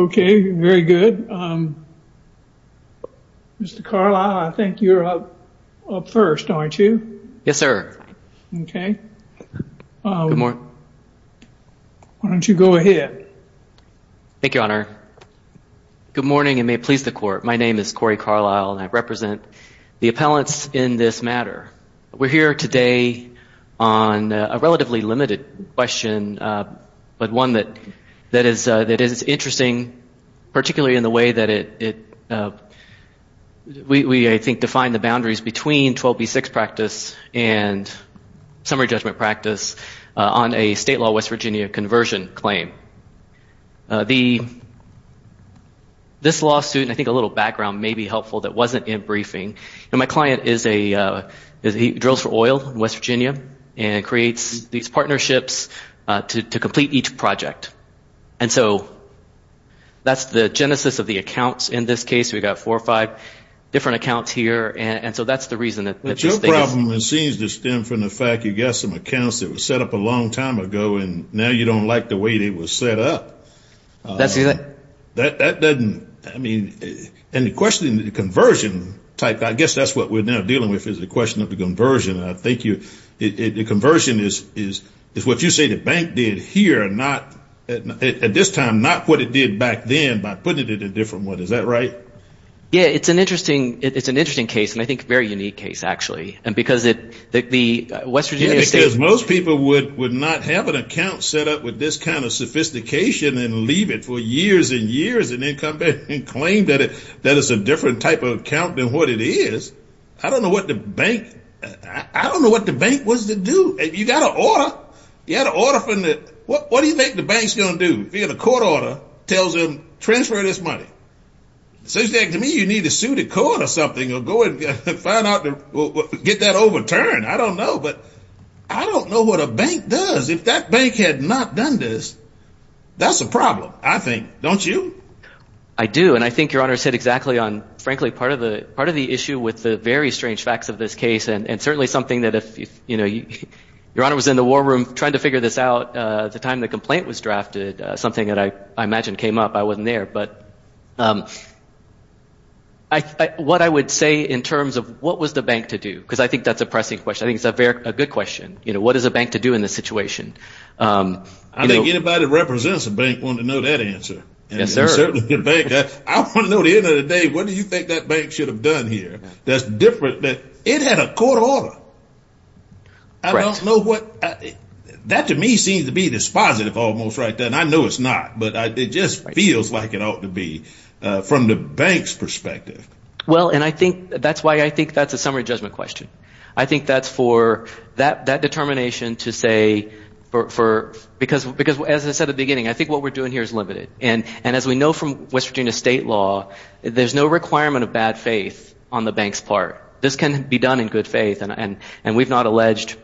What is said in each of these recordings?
Okay very good. Mr. Carlisle I think you're up first aren't you? Yes sir. Okay. Why don't you go ahead. Thank you your honor. Good morning and may it please the court. My name is Corey Carlisle and I represent the appellants in this matter. We're here today on a relatively limited question but one that is interesting particularly in the way that we I think define the boundaries between 12b6 practice and summary judgment practice on a state law West Virginia conversion claim. This lawsuit and I think a little background may be helpful that wasn't in briefing. My client drills for oil in West Virginia and creates these partnerships to complete each project. And so that's the genesis of the accounts in this case. We've got four or five different accounts here and so that's the reason. But your problem seems to stem from the fact you got some accounts that were set up a long time ago and now you don't like the way they were set up. That doesn't I mean and the question the conversion type I guess that's what we're now dealing with is the question of the conversion. I think you the conversion is is is what you say the bank did here not at this time not what it did back then by putting it in a different one. Is that right? Yeah it's an interesting it's an interesting case and I think very unique case actually and because it the West Virginia. Because most people would would not have an account set up with this kind of sophistication and leave it for years and years and then come back and claim that it that is a different type of account than what it is. I don't know what the bank I don't know what the bank was to do. You got an order. You had an order from the what do you think the bank's gonna do via the court order tells them transfer this money. Seems like to me you need to sue the court or something or go and find out get that overturned. I don't know but I don't know what a bank does if that bank had not done this that's a problem I think don't you? I do and I think your honor said exactly on frankly part of the part of the issue with the very strange facts of this case and certainly something that if you know you your honor was in the war room trying to figure this out the time the complaint was drafted something that I imagined came up I wasn't there but I what I would say in terms of what was the bank to do because I think that's a pressing question I think it's a very good question you know what is a bank to do in this situation. I think anybody that represents a bank want to know that answer. Yes sir. I want to know the end of the day what do you think that bank should have done here that's different that it had a court order. I don't know what that to me seems to be this positive almost right then I know it's not but I did just feels like it ought to be from the bank's perspective. Well and I think that's why I think that's for that that determination to say for because because as I said at the beginning I think what we're doing here is limited and and as we know from West Virginia state law there's no requirement of bad faith on the bank's part this can be done in good faith and and and we've not alleged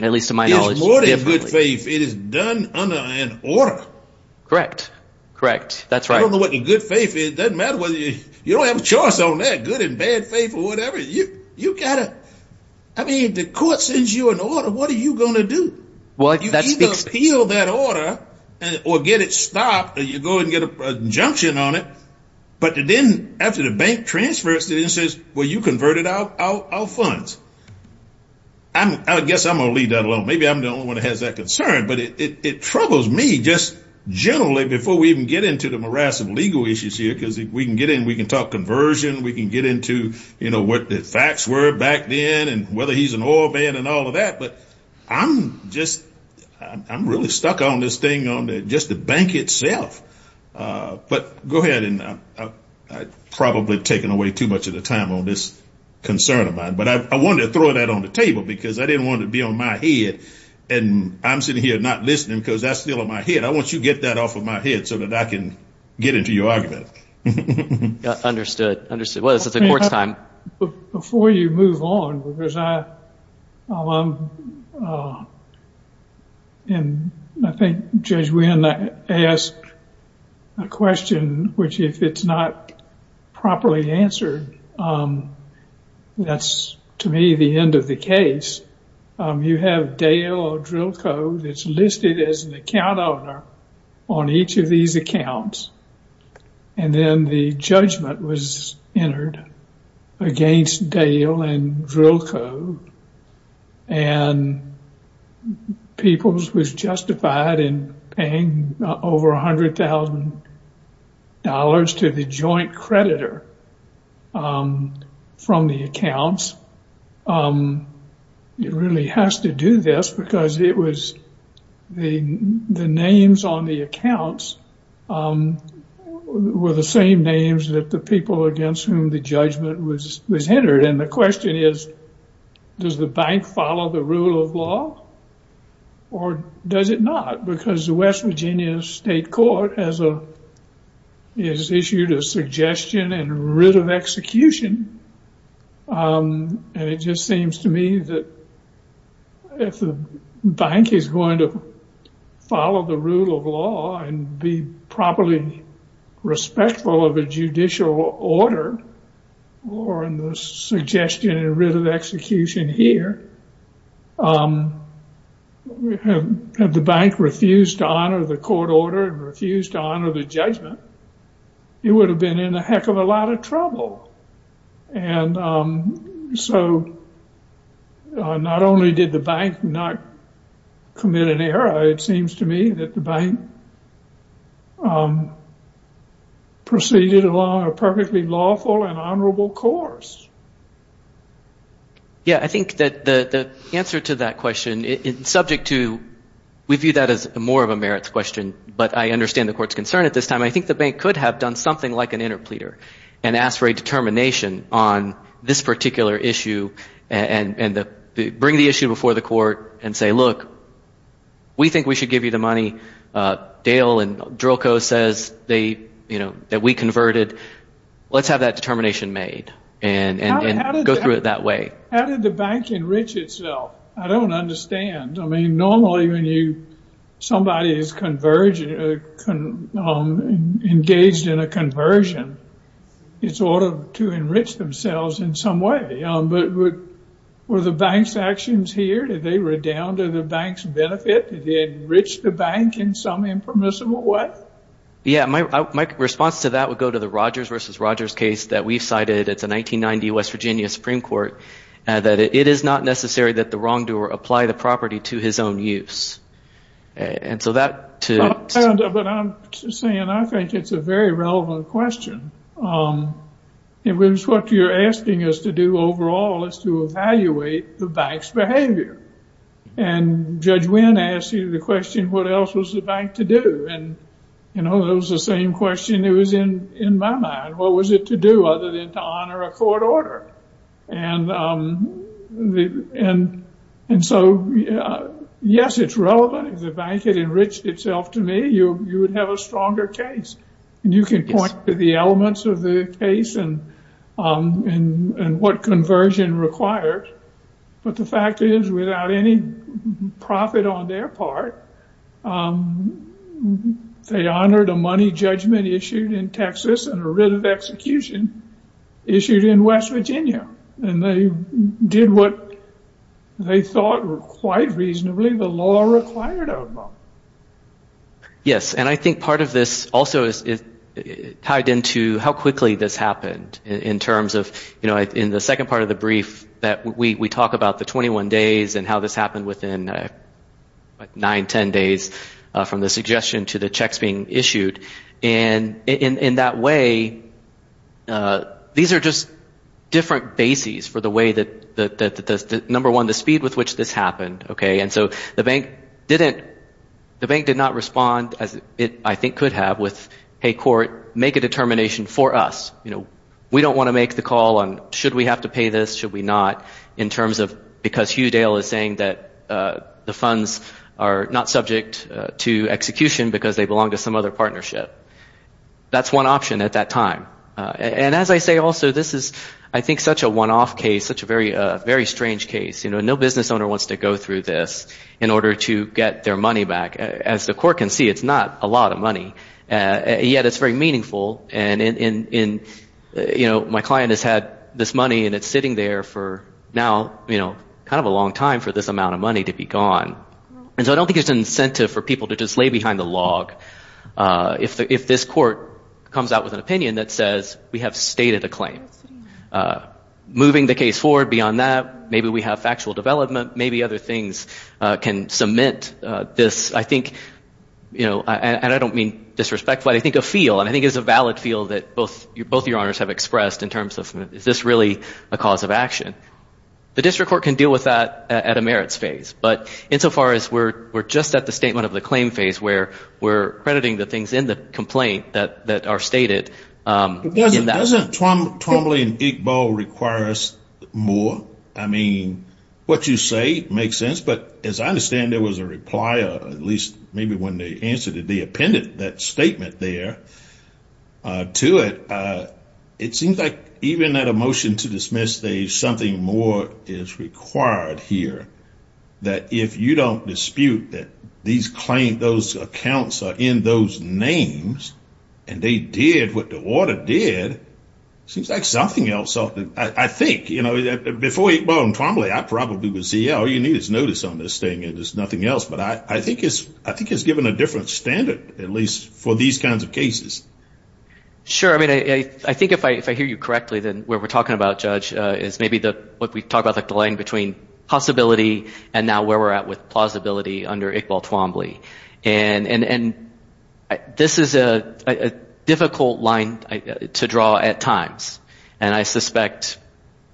at least to my knowledge. It's more than good faith it is done under an order. Correct correct that's right. I don't know what the good faith is doesn't matter whether you you don't have a choice on that good and bad faith or you you gotta I mean the court sends you an order what are you gonna do? Well you either appeal that order or get it stopped or you go and get a injunction on it but then after the bank transfers it and says well you converted out our funds. I guess I'm gonna leave that alone maybe I'm the only one who has that concern but it troubles me just generally before we even get into the morass of legal issues here because if we can get in we can talk conversion we can get into you know what the facts were back then and whether he's an oil man and all of that but I'm just I'm really stuck on this thing on just the bank itself but go ahead and I probably taken away too much of the time on this concern of mine but I wanted to throw that on the table because I didn't want to be on my head and I'm sitting here not listening because that's still on my head I want you get that off of my head so that I can get into your argument. Understood understood well this is a court's time. Before you move on because I and I think Judge Wynn asked a question which if it's not properly answered that's to me the end of the case you have Dale or drill code it's listed as an account owner on each of these accounts and then the judgment was entered against Dale and drill code and Peoples was justified in paying over $100,000 to the joint creditor from the accounts it really has to do this because it was the the names on the accounts were the same names that the people against whom the judgment was was entered and the question is does the bank follow the rule of law or does it not because the West Virginia State Court as a is issued a suggestion and writ of execution and it just seems to me that if the bank is going to follow the rule of law and be properly respectful of a judicial order or in the suggestion and writ of execution here we have the bank refused to honor the court order and refused to honor the judgment it would have been in a heck of a lot of trouble and so not only did the bank not commit an error it seems to me that the bank proceeded along a perfectly lawful and honorable course. Yeah I think that the answer to that question is subject to we view that as more of a merits question but I understand the court's concern at this time I think the bank could have done something like an interpleader and ask for a determination on this particular issue and bring the issue before the court and say look we think we should give you the money Dale and Drillco says they you know that we converted let's have that determination made and go through it that way. How did the bank enrich itself? I don't understand I mean normally when you somebody is engaged in a conversion it's order to enrich themselves in some way but were the bank's actions here? Did they redound to the bank's benefit? Did they enrich the bank in some impermissible way? Yeah my response to that would go to the Rogers vs. Rogers case that we've cited it's a 1990 West Virginia Supreme Court that it is not necessary that the wrongdoer apply the property to his own use and so that to. But I'm saying I think it's a very relevant question it was what you're asking us to do overall is to evaluate the bank's behavior and Judge Wynn asked you the question what else was the bank to do and you know it was the same question it was in in my mind what was it to do other than to honor a court order and so yes it's relevant if the bank had enriched itself to me you would have a stronger case and you can point to the elements of the case and what conversion requires but the fact is without any profit on their part they honored a money judgment issued in Texas and a writ of execution issued in West Virginia and they did what they thought were quite reasonably the law required of them. Yes and I think part of this also is tied into how quickly this happened in terms of you know in the second part of the brief that we talk about the 21 days and how this happened within 9-10 days from the suggestion to the checks being issued and in that way these are just different bases for the way that the number one the speed with which this happened okay and so the bank didn't the bank did not respond as it I think could have with hey court make a determination for us you know we don't want to make the call on should we have to pay this should we not in terms of because Hugh Dale is saying that the funds are not subject to execution because they belong to some other partnership that's one option at that time and as I say also this is I think such a one-off case such a very very strange case you know no business owner wants to go through this in order to get their money back as the court can see it's not a lot of money and yet it's very meaningful and in you know my client has had this money and it's sitting there for now you know kind of a long time for this amount of money to be gone and so I don't think it's an incentive for people to just lay behind the log if this court comes out with an opinion that says we have stated a claim moving the case forward beyond that maybe we have factual development maybe other things can cement this I think you know and I don't mean disrespect but I think a feel and I think it's a valid feel that both your both your honors have expressed in terms of is this really a cause of action the district court can deal with that at a merits phase but insofar as we're we're just at the statement of the claim phase where we're crediting the things in the complaint that that are stated in that doesn't Tom Tom Lee and Igbo requires more I mean what you say makes sense but as I understand there was a reply or at least maybe when they answered it they appended that statement there to it it seems like even that a motion to dismiss they something more is required here that if you don't dispute that these claim those accounts are in those names and they did what the water did seems like something else I think you know that before you bone probably I probably would see all you need is notice on this thing it is nothing else but I think it's I think it's given a different standard at least for these kinds of cases sure I mean I think if I if I hear you correctly then where we're talking about judge is maybe the what we've talked about like the line between possibility and now where we're at with and and this is a difficult line to draw at times and I suspect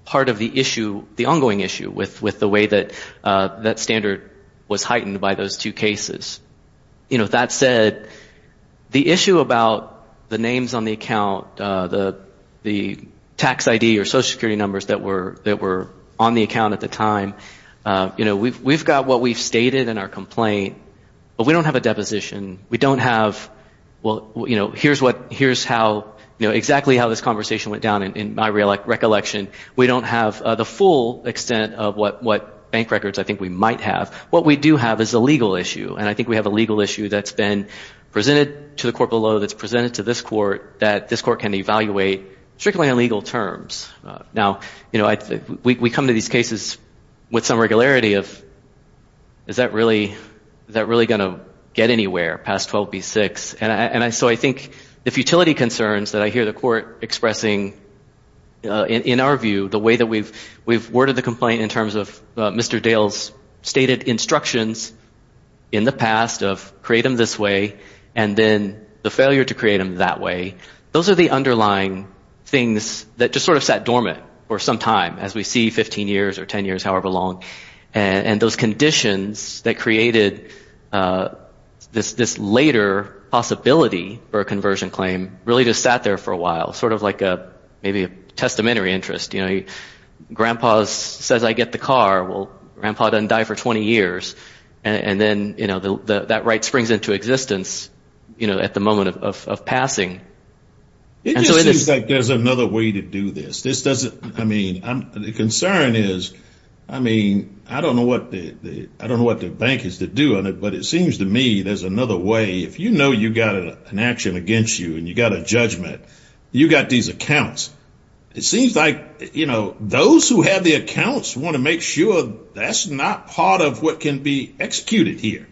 part of the issue the ongoing issue with with the way that that standard was heightened by those two cases you know that said the issue about the names on the account the the tax ID or Social Security numbers that were that were on the account at the time you know we've we've got what we've stated in our complaint but we don't have a deposition we don't have well you know here's what here's how you know exactly how this conversation went down in my recollection we don't have the full extent of what what bank records I think we might have what we do have is a legal issue and I think we have a legal issue that's been presented to the court below that's presented to this court that this court can evaluate strictly on legal terms now you know I think we come to these cases with some regularity of is that really that really going to get anywhere past 12 b6 and I so I think the futility concerns that I hear the court expressing in our view the way that we've we've worded the complaint in terms of Mr. Dale's stated instructions in the past of create them this way and then the failure to create them that way those are the underlying concerns those are the underlying things that just sort of sat dormant for some time as we see 15 years or 10 years however long and those conditions that created this this later possibility for a conversion claim really just sat there for a while sort of like a maybe a testamentary interest you know grandpa's says I get the car well grandpa doesn't die for 20 years and then you know the that right springs into existence you know at the moment of death and so it is like there's another way to do this this doesn't I mean I'm the concern is I mean I don't know what the I don't know what the bank is to do on it but it seems to me there's another way if you know you got an action against you and you got a judgment you got these accounts it seems like you know those who have the accounts want to make sure that's not part of what can be executed here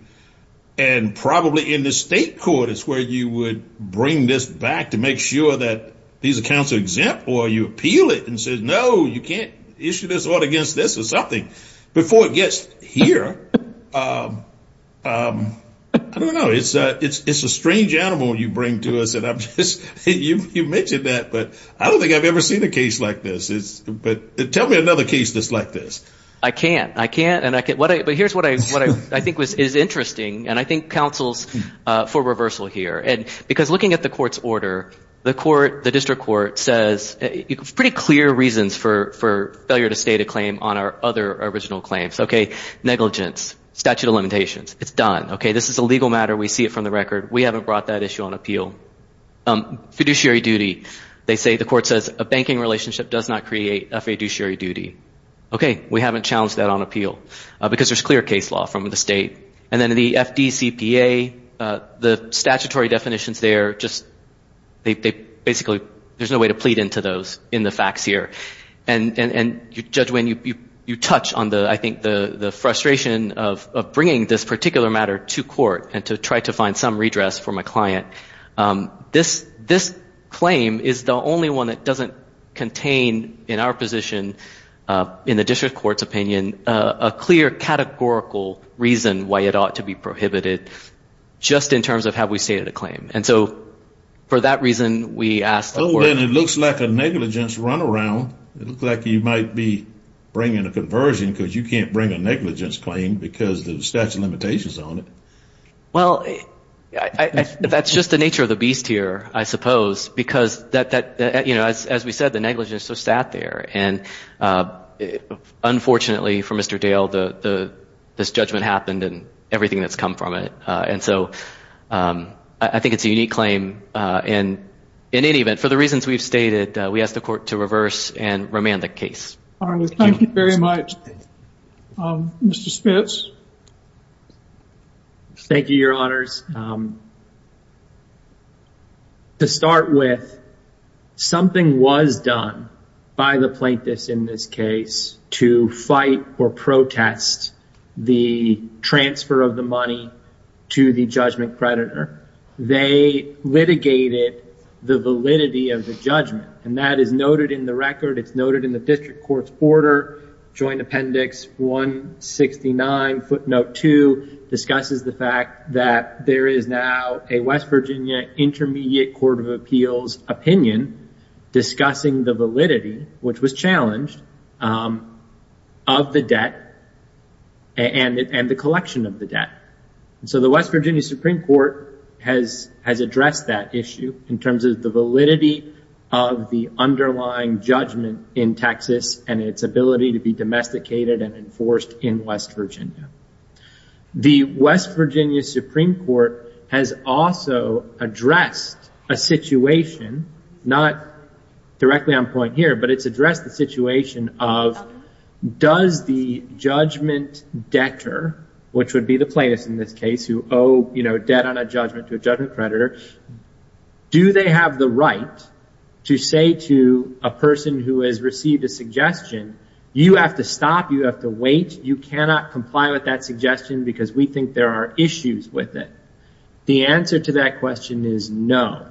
and probably in the state court is where you would bring this back to make sure that these accounts are exempt or you appeal it and says no you can't issue this order against this or something before it gets here I don't know it's a it's a strange animal you bring to us and I'm just you you mentioned that but I don't think I've ever seen a case like this is but tell me another case that's like this I can't I can't and I get what I but here's what I what I think was is interesting and I think counsel's for reversal here and because looking at the court's order the court the district court says it's pretty clear reasons for failure to state a claim on our other original claims okay negligence statute of limitations it's done okay this is a legal matter we see it from the record we haven't brought that issue on appeal fiduciary duty they say the court says a banking relationship does not create a fiduciary duty okay we haven't challenged that on appeal because there's clear case law from the state and then the FDCPA the statutory definitions there just they basically there's no way to plead into those in the facts here and and and you judge when you you touch on the I think the the frustration of of bringing this particular matter to court and to try to find some redress for my client this this claim is the only one that doesn't contain in our position in the district court's opinion a clear categorical reason why it ought to be prohibited just in terms of how we stated a claim and so for that reason we asked well then it looks like a negligence runaround it looks like you might be bringing a conversion because you can't bring a negligence claim because the statute of limitations on it well I that's just the nature of the beast here I suppose because that that you know as as we said the negligence so sat there and unfortunately for Mr. Dale the this judgment happened and everything that's come from it and so I think it's a unique claim and in any event for the reasons we've stated we asked the court to reverse and remand the case. Thank you very much. Mr. Spence. Thank you your honors. To start with something wasn't clear in the statute of limitations. It was done by the plaintiffs in this case to fight or protest the transfer of the money to the judgment predator. They litigated the validity of the judgment and that is noted in the record it's noted in the district court's order joint appendix 169 footnote 2 discusses the fact that there is now a West Virginia Intermediate Court of Appeals opinion discussing the validity of the judgment. It's also discussing the validity which was challenged of the debt and the collection of the debt. So the West Virginia Supreme Court has addressed that issue in terms of the validity of the underlying judgment in Texas and its ability to be domesticated and enforced in West Virginia. The West Virginia Supreme Court has also addressed a situation not directly related to the judgment but it's addressed the situation of does the judgment debtor which would be the plaintiffs in this case who owe debt on a judgment to a judgment predator. Do they have the right to say to a person who has received a suggestion you have to stop you have to wait. You cannot comply with that suggestion because we think there are issues with it. The answer to that question is no.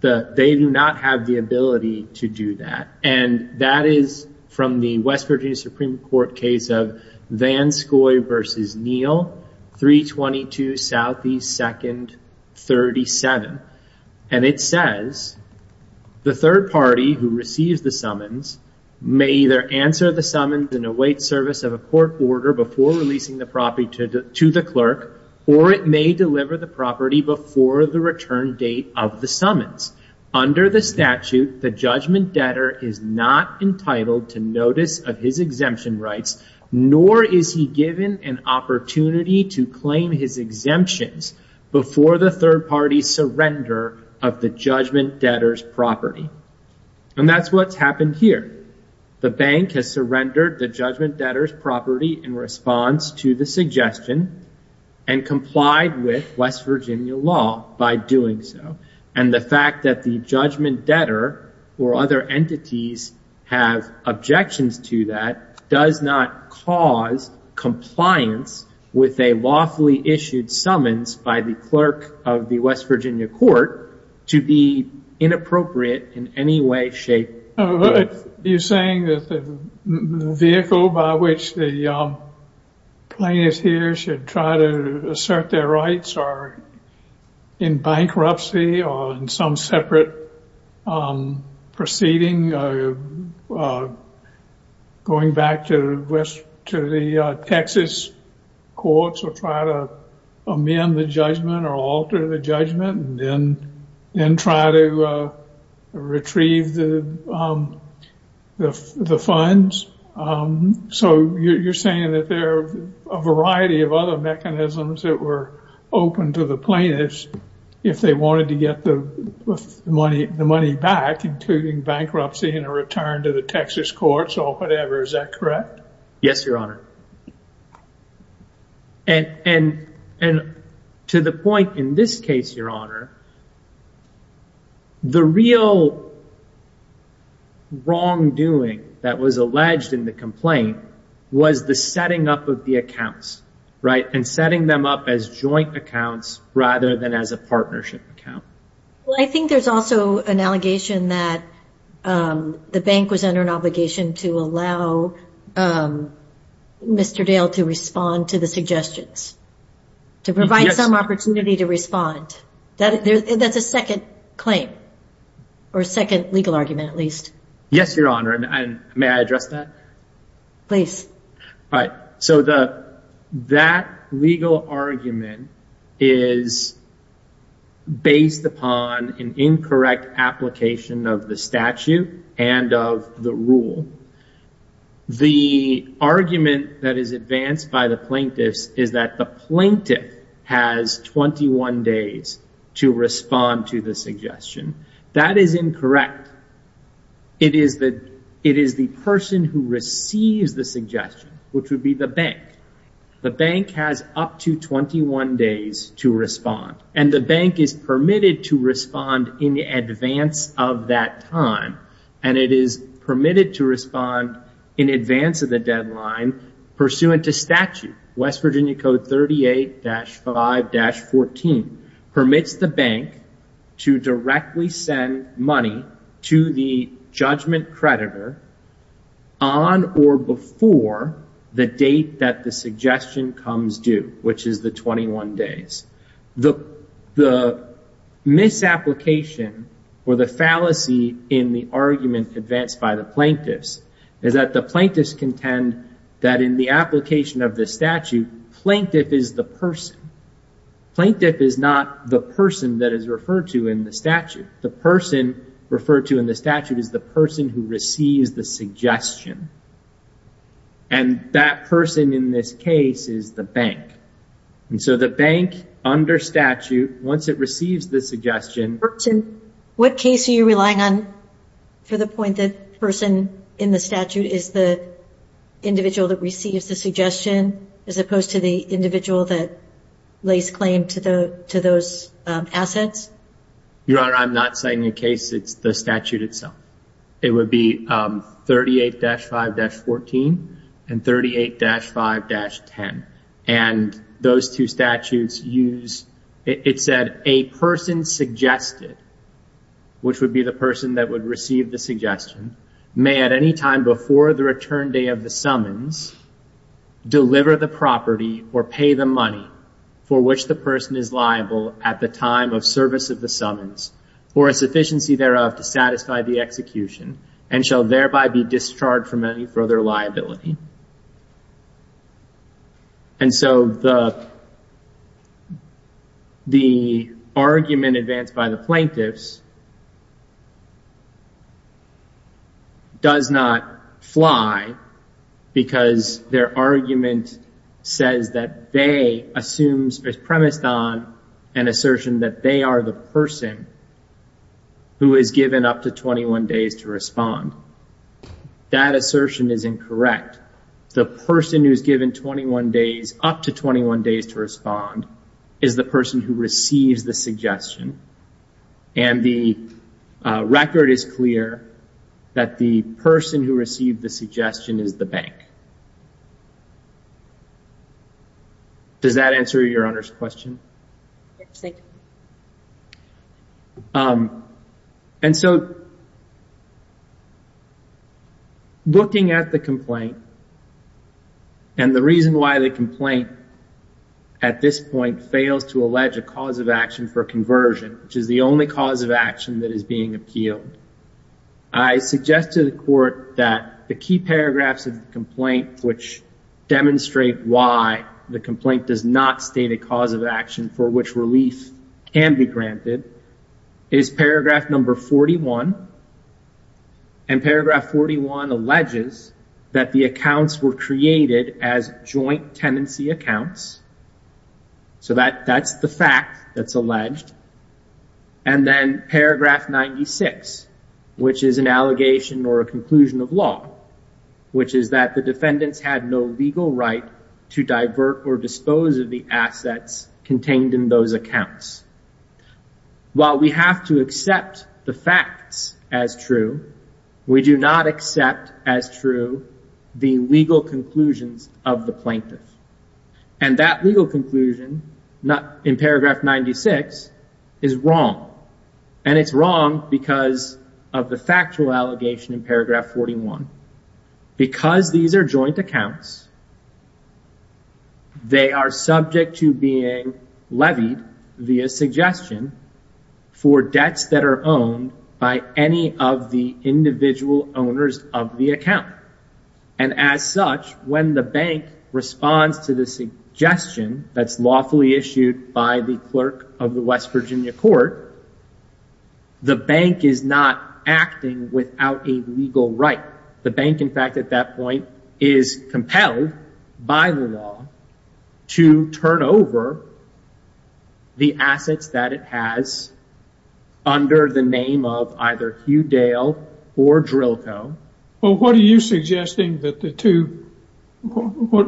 They do not have the ability to do that and that is from the West Virginia Supreme Court case of Van Scoy versus Neal 322 Southeast Second 37 and it says the third party who receives the summons may either answer the summons and await service of a court order before releasing the property to the clerk or it may deliver the property before the return date of the summons. Under the statute the judgment debtor is not entitled to notice of his exemption rights nor is he given an opportunity to claim his exemptions before the third party surrender of the judgment debtor's property and that's what's happened here. The bank has surrendered the judgment debtor's property in response to the suggestion and complied with West Virginia law by doing so and the fact that the judgment debtor or other entities have objections to that does not cause compliance with a lawfully issued summons by the clerk of the West Virginia court to be inappropriate in any way, shape, or form. You're saying that the vehicle by which the plaintiff here should try to assert their rights are in bankruptcy? Or in some separate proceeding? Going back to the Texas courts or try to amend the judgment or alter the judgment and then try to retrieve the funds? So you're saying that there are a variety of other mechanisms that were open to the plaintiffs if they wanted to get the money back, including bankruptcy and a return to the Texas courts or whatever, is that correct? Yes, Your Honor. And to the point in this case, Your Honor, the real wrongdoing that was alleged in the complaint was the setting up of the accounts, and setting them up as joint accounts rather than as a partnership account. Well, I think there's also an allegation that the bank was under an obligation to allow Mr. Dale to respond to the suggestions, to provide some opportunity to respond. That's a second claim, or second legal argument at least. Yes, Your Honor, and may I address that? So that legal argument is based upon an incorrect application of the statute and of the rule. The argument that is advanced by the plaintiffs is that the plaintiff has 21 days to respond to the suggestion. That is incorrect. It is the person who receives the suggestion, which would be the bank. The bank has up to 21 days to respond, and the bank is permitted to respond in advance of that time, and it is permitted to respond in advance of the deadline pursuant to statute. West Virginia Code 38-5-14 permits the bank to directly send money to the judgment creditor on or before the date that the suggestion comes due, which is the 21 days. The misapplication or the fallacy in the argument advanced by the plaintiffs is that the plaintiffs contend that in the application of the statute, plaintiff is the person. Plaintiff is not the person that is referred to in the statute. The person referred to in the statute is the person who receives the suggestion, and that person in this case is the bank. So the bank under statute, once it receives the suggestion... What case are you relying on for the point that the person in the statute is the individual that receives the suggestion, as opposed to the individual that lays claim to those assets? Your Honor, I'm not citing a case. It's the statute itself. It would be 38-5-14 and 38-5-10. And those two statutes use... It said, a person suggested, which would be the person that would receive the suggestion, may at any time before the return day of the summons deliver the property or pay the money for which the person is liable at the time of service of the summons, for a sufficiency thereof to satisfy the execution, and shall thereby be discharged from any further liability. And so the argument advanced by the plaintiffs does not fly because their argument says that they assumes, is premised on an assertion that they are the person who is given up to 21 days to respond. That assertion is incorrect. The person who is given 21 days, up to 21 days to respond, is the person who receives the suggestion, and the record is clear that the person who received the suggestion is the bank. Does that answer Your Honor's question? And so, looking at the complaint, and the reason why the complaint, at this point, fails to allege a cause of action for conversion, which is the only cause of action that is being appealed, I suggest to the court that the key paragraphs of the complaint, which demonstrate why the complaint does not state a cause of action for which relief can be granted, is paragraph number 41, and paragraph 41 alleges that the accounts were created as joint tenancy accounts. So that's the fact that's alleged. And then paragraph 96, which is an allegation or a conclusion of law, which is that the defendants had no legal right to divert or dispose of the assets contained in those accounts. While we have to accept the facts as true, we do not accept as true the legal conclusions of the plaintiff. And that legal conclusion, in paragraph 96, is wrong. And it's wrong because of the factual allegation in paragraph 41. Because these are joint accounts, they are subject to being levied via suggestion for debts that are owned by any of the individual owners of the account. And as such, when the bank responds to the suggestion that's lawfully issued by the clerk of the West Virginia court, the bank is not acting without a legal right. The bank, in fact, at that point, is compelled by the law to turn over the assets that it has under the name of either Hugh Dale or Drilko. What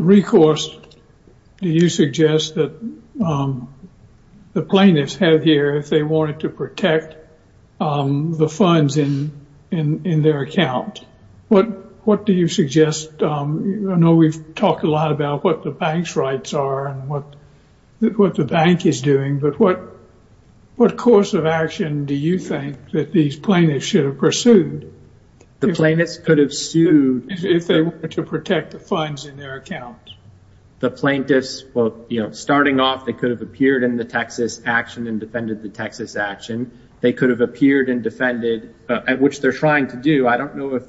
recourse do you suggest that the plaintiffs have here if they wanted to protect the funds in their account? What do you suggest? I know we've talked a lot about what the bank's rights are and what the bank is doing, but what course of action do you think that these plaintiffs should have pursued if they wanted to protect the funds in their account? The plaintiffs, well, you know, starting off, they could have appeared in the Texas action and defended the Texas action. They could have appeared and defended, which they're trying to do. I don't know if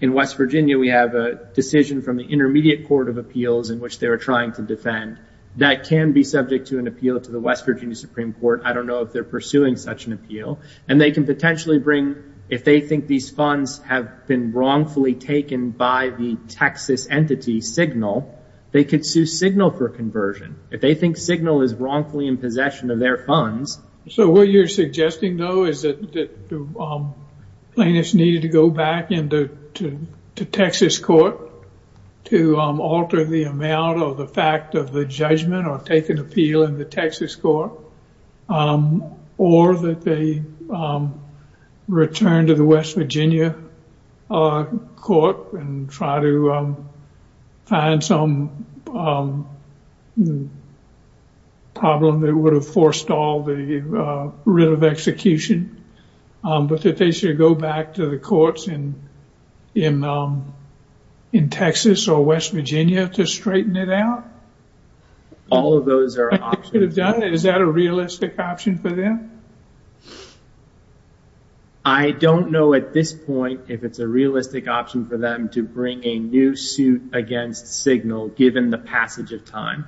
in West Virginia we have a decision from the Intermediate Court of Appeals in which they were trying to defend. That can be subject to an appeal to the West Virginia Supreme Court. I don't know if they're pursuing such an appeal. And they can potentially bring, if they think these funds have been wrongfully taken by the Texas entity Signal, they could sue Signal for conversion. If they think Signal is wrongfully in possession of their funds. So what you're suggesting, though, is that the plaintiffs needed to go back to Texas court to alter the amount of the fact of the judgment or take an appeal in the Texas court or that they return to the West Virginia court and try to find some problem that would have forced all the writ of execution, but that they should go back to the courts in Texas or West Virginia to straighten it out? All of those are options. Is that a realistic option for them? I don't know at this point if it's a realistic option for them to bring a new suit against Signal given the passage of time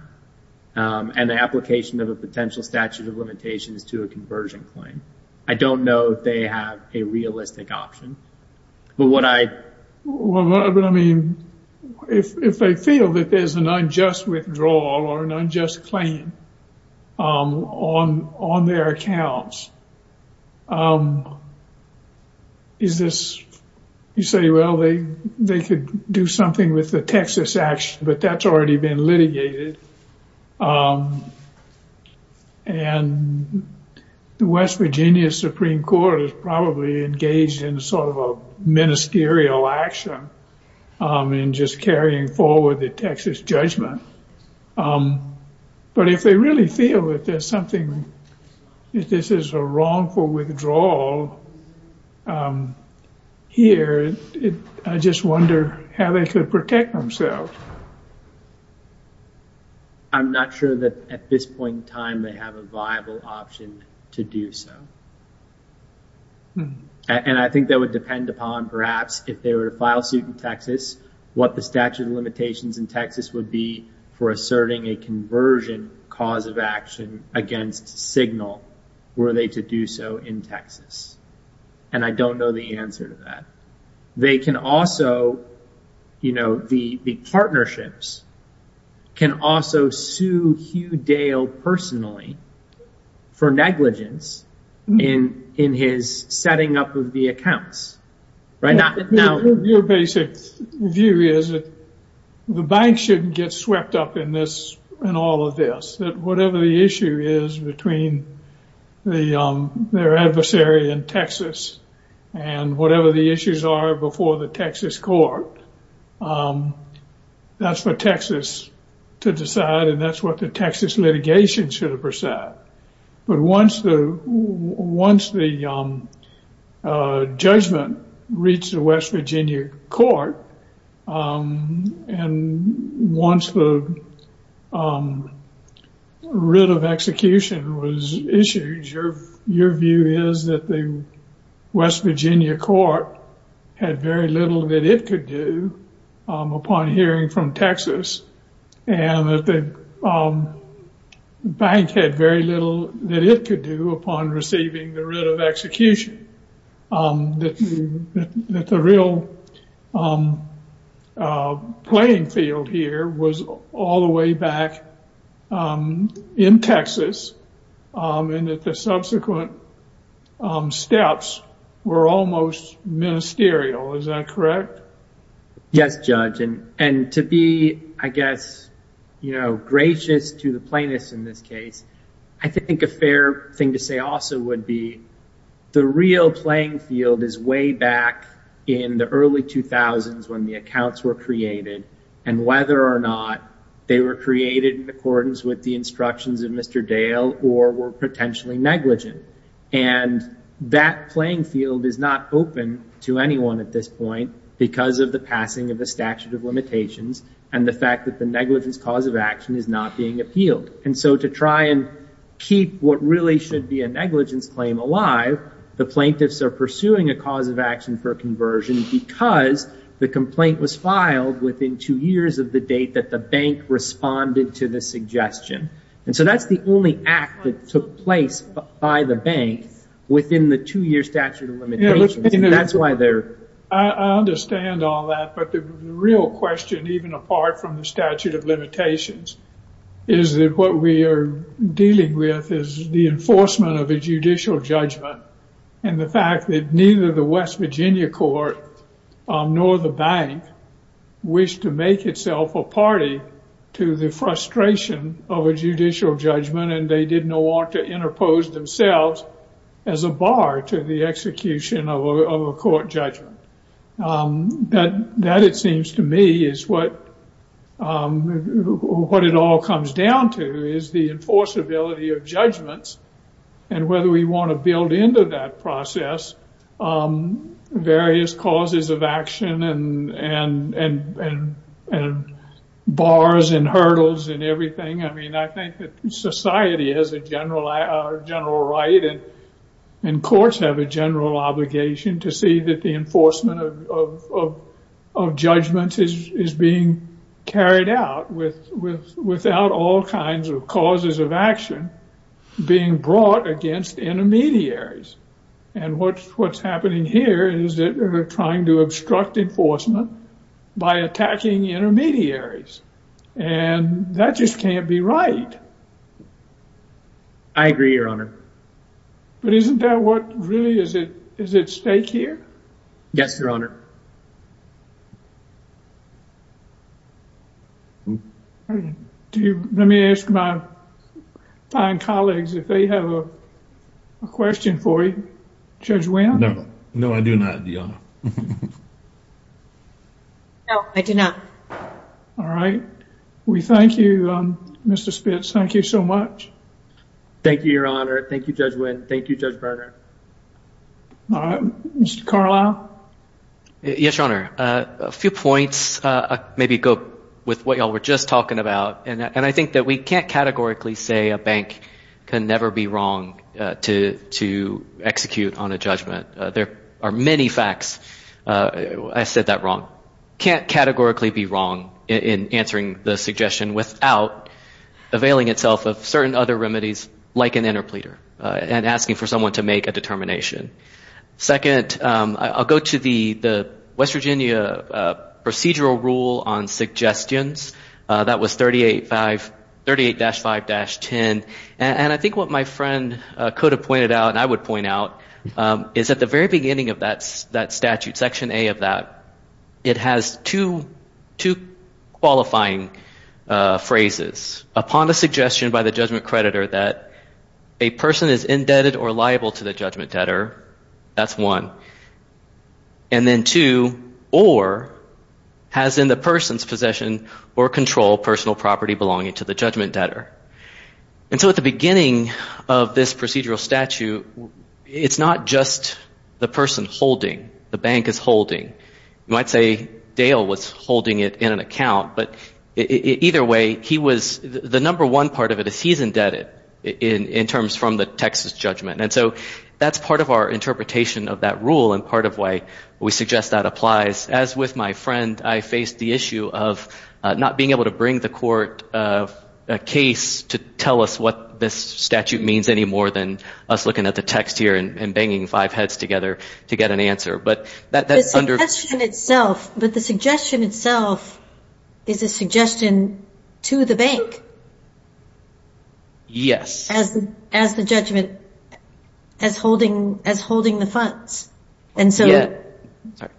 and the application of a potential statute of limitations to a conversion claim. I don't know if they have a realistic option. If they feel that there's an unjust withdrawal or an unjust claim on their accounts, you say, well, they could do something with the Texas action, but that's already been litigated. The West Virginia Supreme Court is probably engaged in sort of a ministerial action in just carrying forward the Texas judgment. But if they really feel that this is a wrongful withdrawal here, I just wonder how they could protect themselves. I'm not sure that at this point in time they have a viable option to do so. And I think that would depend upon, perhaps, if they were to file suit in Texas, what the statute of limitations in Texas would be for asserting a conversion cause of action against Signal were they to do so in Texas. And I don't know the answer to that. They can also, you know, the partnerships can also sue Hugh Dale personally for negligence in his setting up of the accounts. The bank shouldn't get swept up in all of this. Whatever the issue is between their adversary in Texas and whatever the issues are before the Texas court, that's for Texas to decide and that's what the Texas litigation should have decided. But once the judgment reached the West Virginia court and once the writ of execution was issued, your view is that the West Virginia court had very little that it could do upon hearing from Texas and that the bank had very little that it could do upon receiving the writ of execution. That the real playing field here was all the way back in Texas and that the subsequent steps were almost ministerial. Is that correct? Yes, Judge. And to be, I guess, you know, gracious to the plaintiffs in this case, I think a fair thing to say also would be the real playing field is way back in the early 2000s when the accounts were created and whether or not they were created in accordance with the instructions of Mr. Dale or were negligent. And that playing field is not open to anyone at this point because of the passing of the statute of limitations and the fact that the negligence cause of action is not being appealed. And so to try and keep what really should be a negligence claim alive, the plaintiffs are pursuing a cause of action for conversion because the complaint was filed within two years of the date that the bank responded to the suggestion. And so that's the only act that took place by the bank within the two year statute of limitations. That's why they're... I understand all that, but the real question, even apart from the statute of limitations, is that what we are dealing with is the enforcement of a judicial judgment and the fact that neither the West Virginia court nor the bank wished to make itself a party to the frustration of a judicial judgment and they did not want to interpose themselves as a bar to the execution of a court judgment. That, it seems to me, is what it all comes down to is the enforceability of judgments and whether we want to build into that process various causes of action and bars and hurdles and everything. I mean, I think that society has a general right and courts have a general obligation to see that the enforcement of judgment is being carried out without all kinds of causes of action being brought against intermediaries. And what's happening here is that they're trying to obstruct enforcement by attacking intermediaries and that just can't be right. I agree, Your Honor. But isn't that what really is at stake here? Yes, Your Honor. Let me ask my fine colleagues if they have a question for you. Judge Winn? No, I do not, Your Honor. No, I do not. All right. We thank you, Mr. Spitz. Thank you so much. Thank you, Your Honor. Thank you, Judge Winn. Thank you, Judge Berger. Yes, Your Honor. A few points. Maybe go with what y'all were just talking about. And I think that we can't categorically say a bank can never be wrong to execute on a judgment. There are many facts. I said that wrong. Can't categorically be wrong in answering the suggestion without availing itself of certain other remedies like an interpleader and asking for someone to make a determination. Second, I'll go to the West Virginia procedural rule on suggestions. That was 38-5-10. And I think what my friend could have pointed out and I would point out is at the very beginning of that statute, Section A of that, it has two qualifying phrases. Upon the suggestion by the judgment creditor that a person is indebted or liable to the judgment debtor, that's one. And then two, or has in the person's possession or control personal property belonging to the judgment debtor. And so at the beginning of this procedural statute, it's not just the person holding. The bank is holding. You might say Dale was holding it in an account. But either way, the number one part of it is he's indebted in terms from the Texas judgment. And so that's part of our interpretation of that rule and part of why we suggest that applies. As with my friend, I faced the issue of not being able to bring the court a case to tell us what this statute means any more than us looking at the text here and banging five heads together to get an answer. But that's under. But the suggestion itself is a suggestion to the bank. Yes. As as the judgment as holding as holding the funds. And so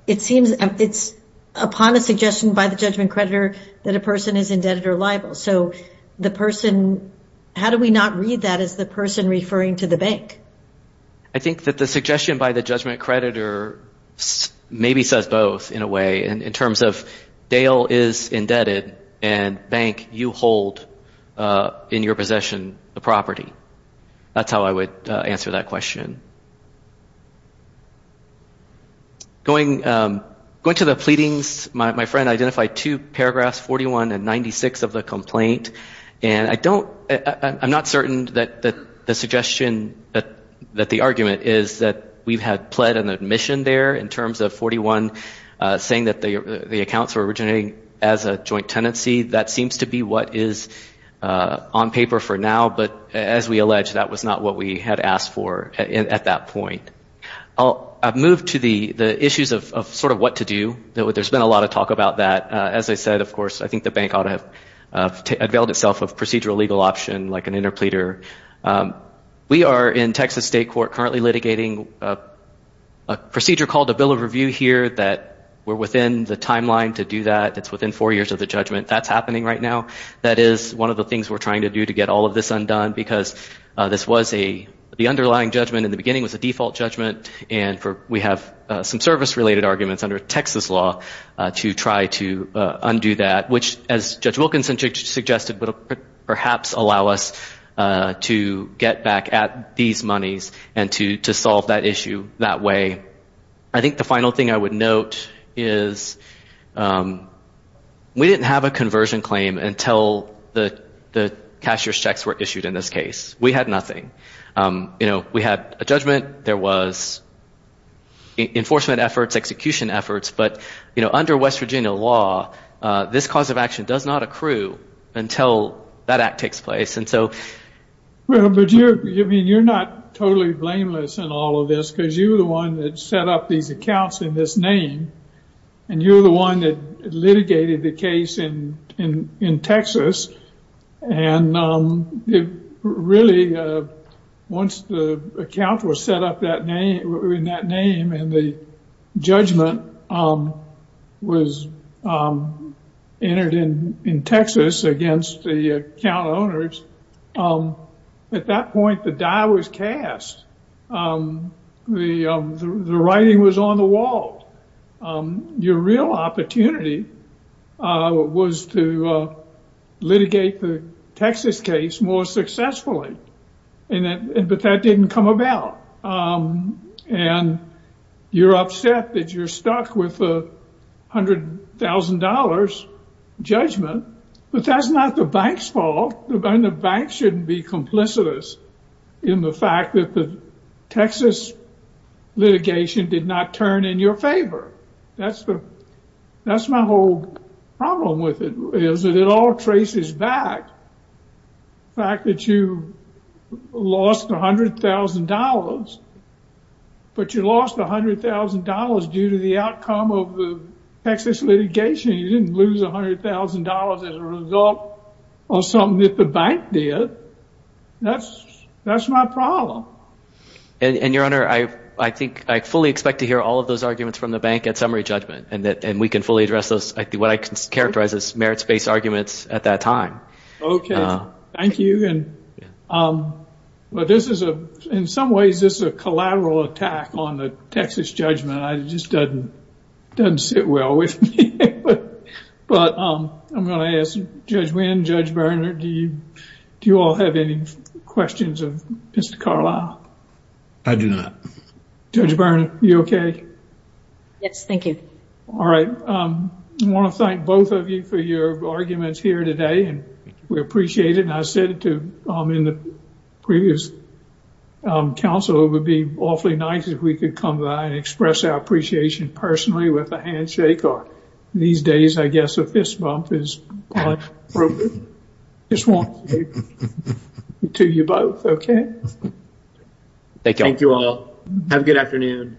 it seems it's upon a suggestion by the judgment creditor that a person is indebted or liable. So the person how do we not read that as the person referring to the bank? I think that the suggestion by the judgment creditor maybe says both in a way and in terms of Dale is indebted and bank you hold in your possession the property. That's how I would answer that question. Going going to the pleadings, my friend identified two paragraphs, 41 and 96 of the complaint. And I don't I'm not certain that the suggestion that that the argument is that we've had pled an admission there in terms of 41 saying that the accounts are originating as a joint tenancy. That seems to be what is on paper for now. But as we allege, that was not what we had asked for at that point. I'll move to the issues of sort of what to do. There's been a lot of talk about that. As I said, of course, I think the pleader we are in Texas state court currently litigating a procedure called a bill of review here that we're within the timeline to do that. It's within four years of the judgment that's happening right now. That is one of the things we're trying to do to get all of this undone, because this was a the underlying judgment in the beginning was a default judgment. And we have some service related arguments under Texas law to try to undo that, which, as Judge Wilkinson suggested, would perhaps allow us to get back at these monies and to solve that issue that way. I think the final thing I would note is we didn't have a conversion claim until the cashier's checks were issued in this case. We had nothing. We had a judgment. There was enforcement efforts, execution efforts. But under West Virginia law, this cause of action does not accrue until that act takes place. Well, but you're not totally blameless in all of this, because you're the one that set up these accounts in this name. And you're the one that litigated the case in Texas. And really, once the account was set up in that name and the judgment was entered in by the account owners, at that point, the die was cast. The writing was on the wall. Your real opportunity was to litigate the Texas case more successfully. But that didn't come about. And you're upset that you're stuck with a $100,000 judgment. But that's not the bank's fault. And the bank shouldn't be complicit in the fact that the Texas litigation did not turn in your favor. That's my whole problem with it, is that it all traces back to the fact that you lost $100,000. But you lost $100,000 due to the outcome of the Texas litigation. You didn't lose $100,000 as a result of something that the bank did. That's my problem. And, Your Honor, I think I fully expect to hear all of those arguments from the bank at summary judgment. And we can fully address those, what I can characterize as merits-based arguments at that time. Okay. Thank you. But this is, in some ways, this is a collateral attack on the Texas judgment. It just doesn't sit well with me. But I'm going to ask Judge Winn, Judge Berner, do you all have any questions of Mr. Carlisle? I do not. Judge Berner, are you okay? Yes, thank you. All right. I want to thank both of you for your arguments here today. And we appreciate it. And I said to, in the previous Council, it would be awfully nice if we could come by and express our appreciation personally with a handshake. Or these days, I guess, a fist bump is quite appropriate. I just want to say to you both, okay? Thank you all. Have a good afternoon.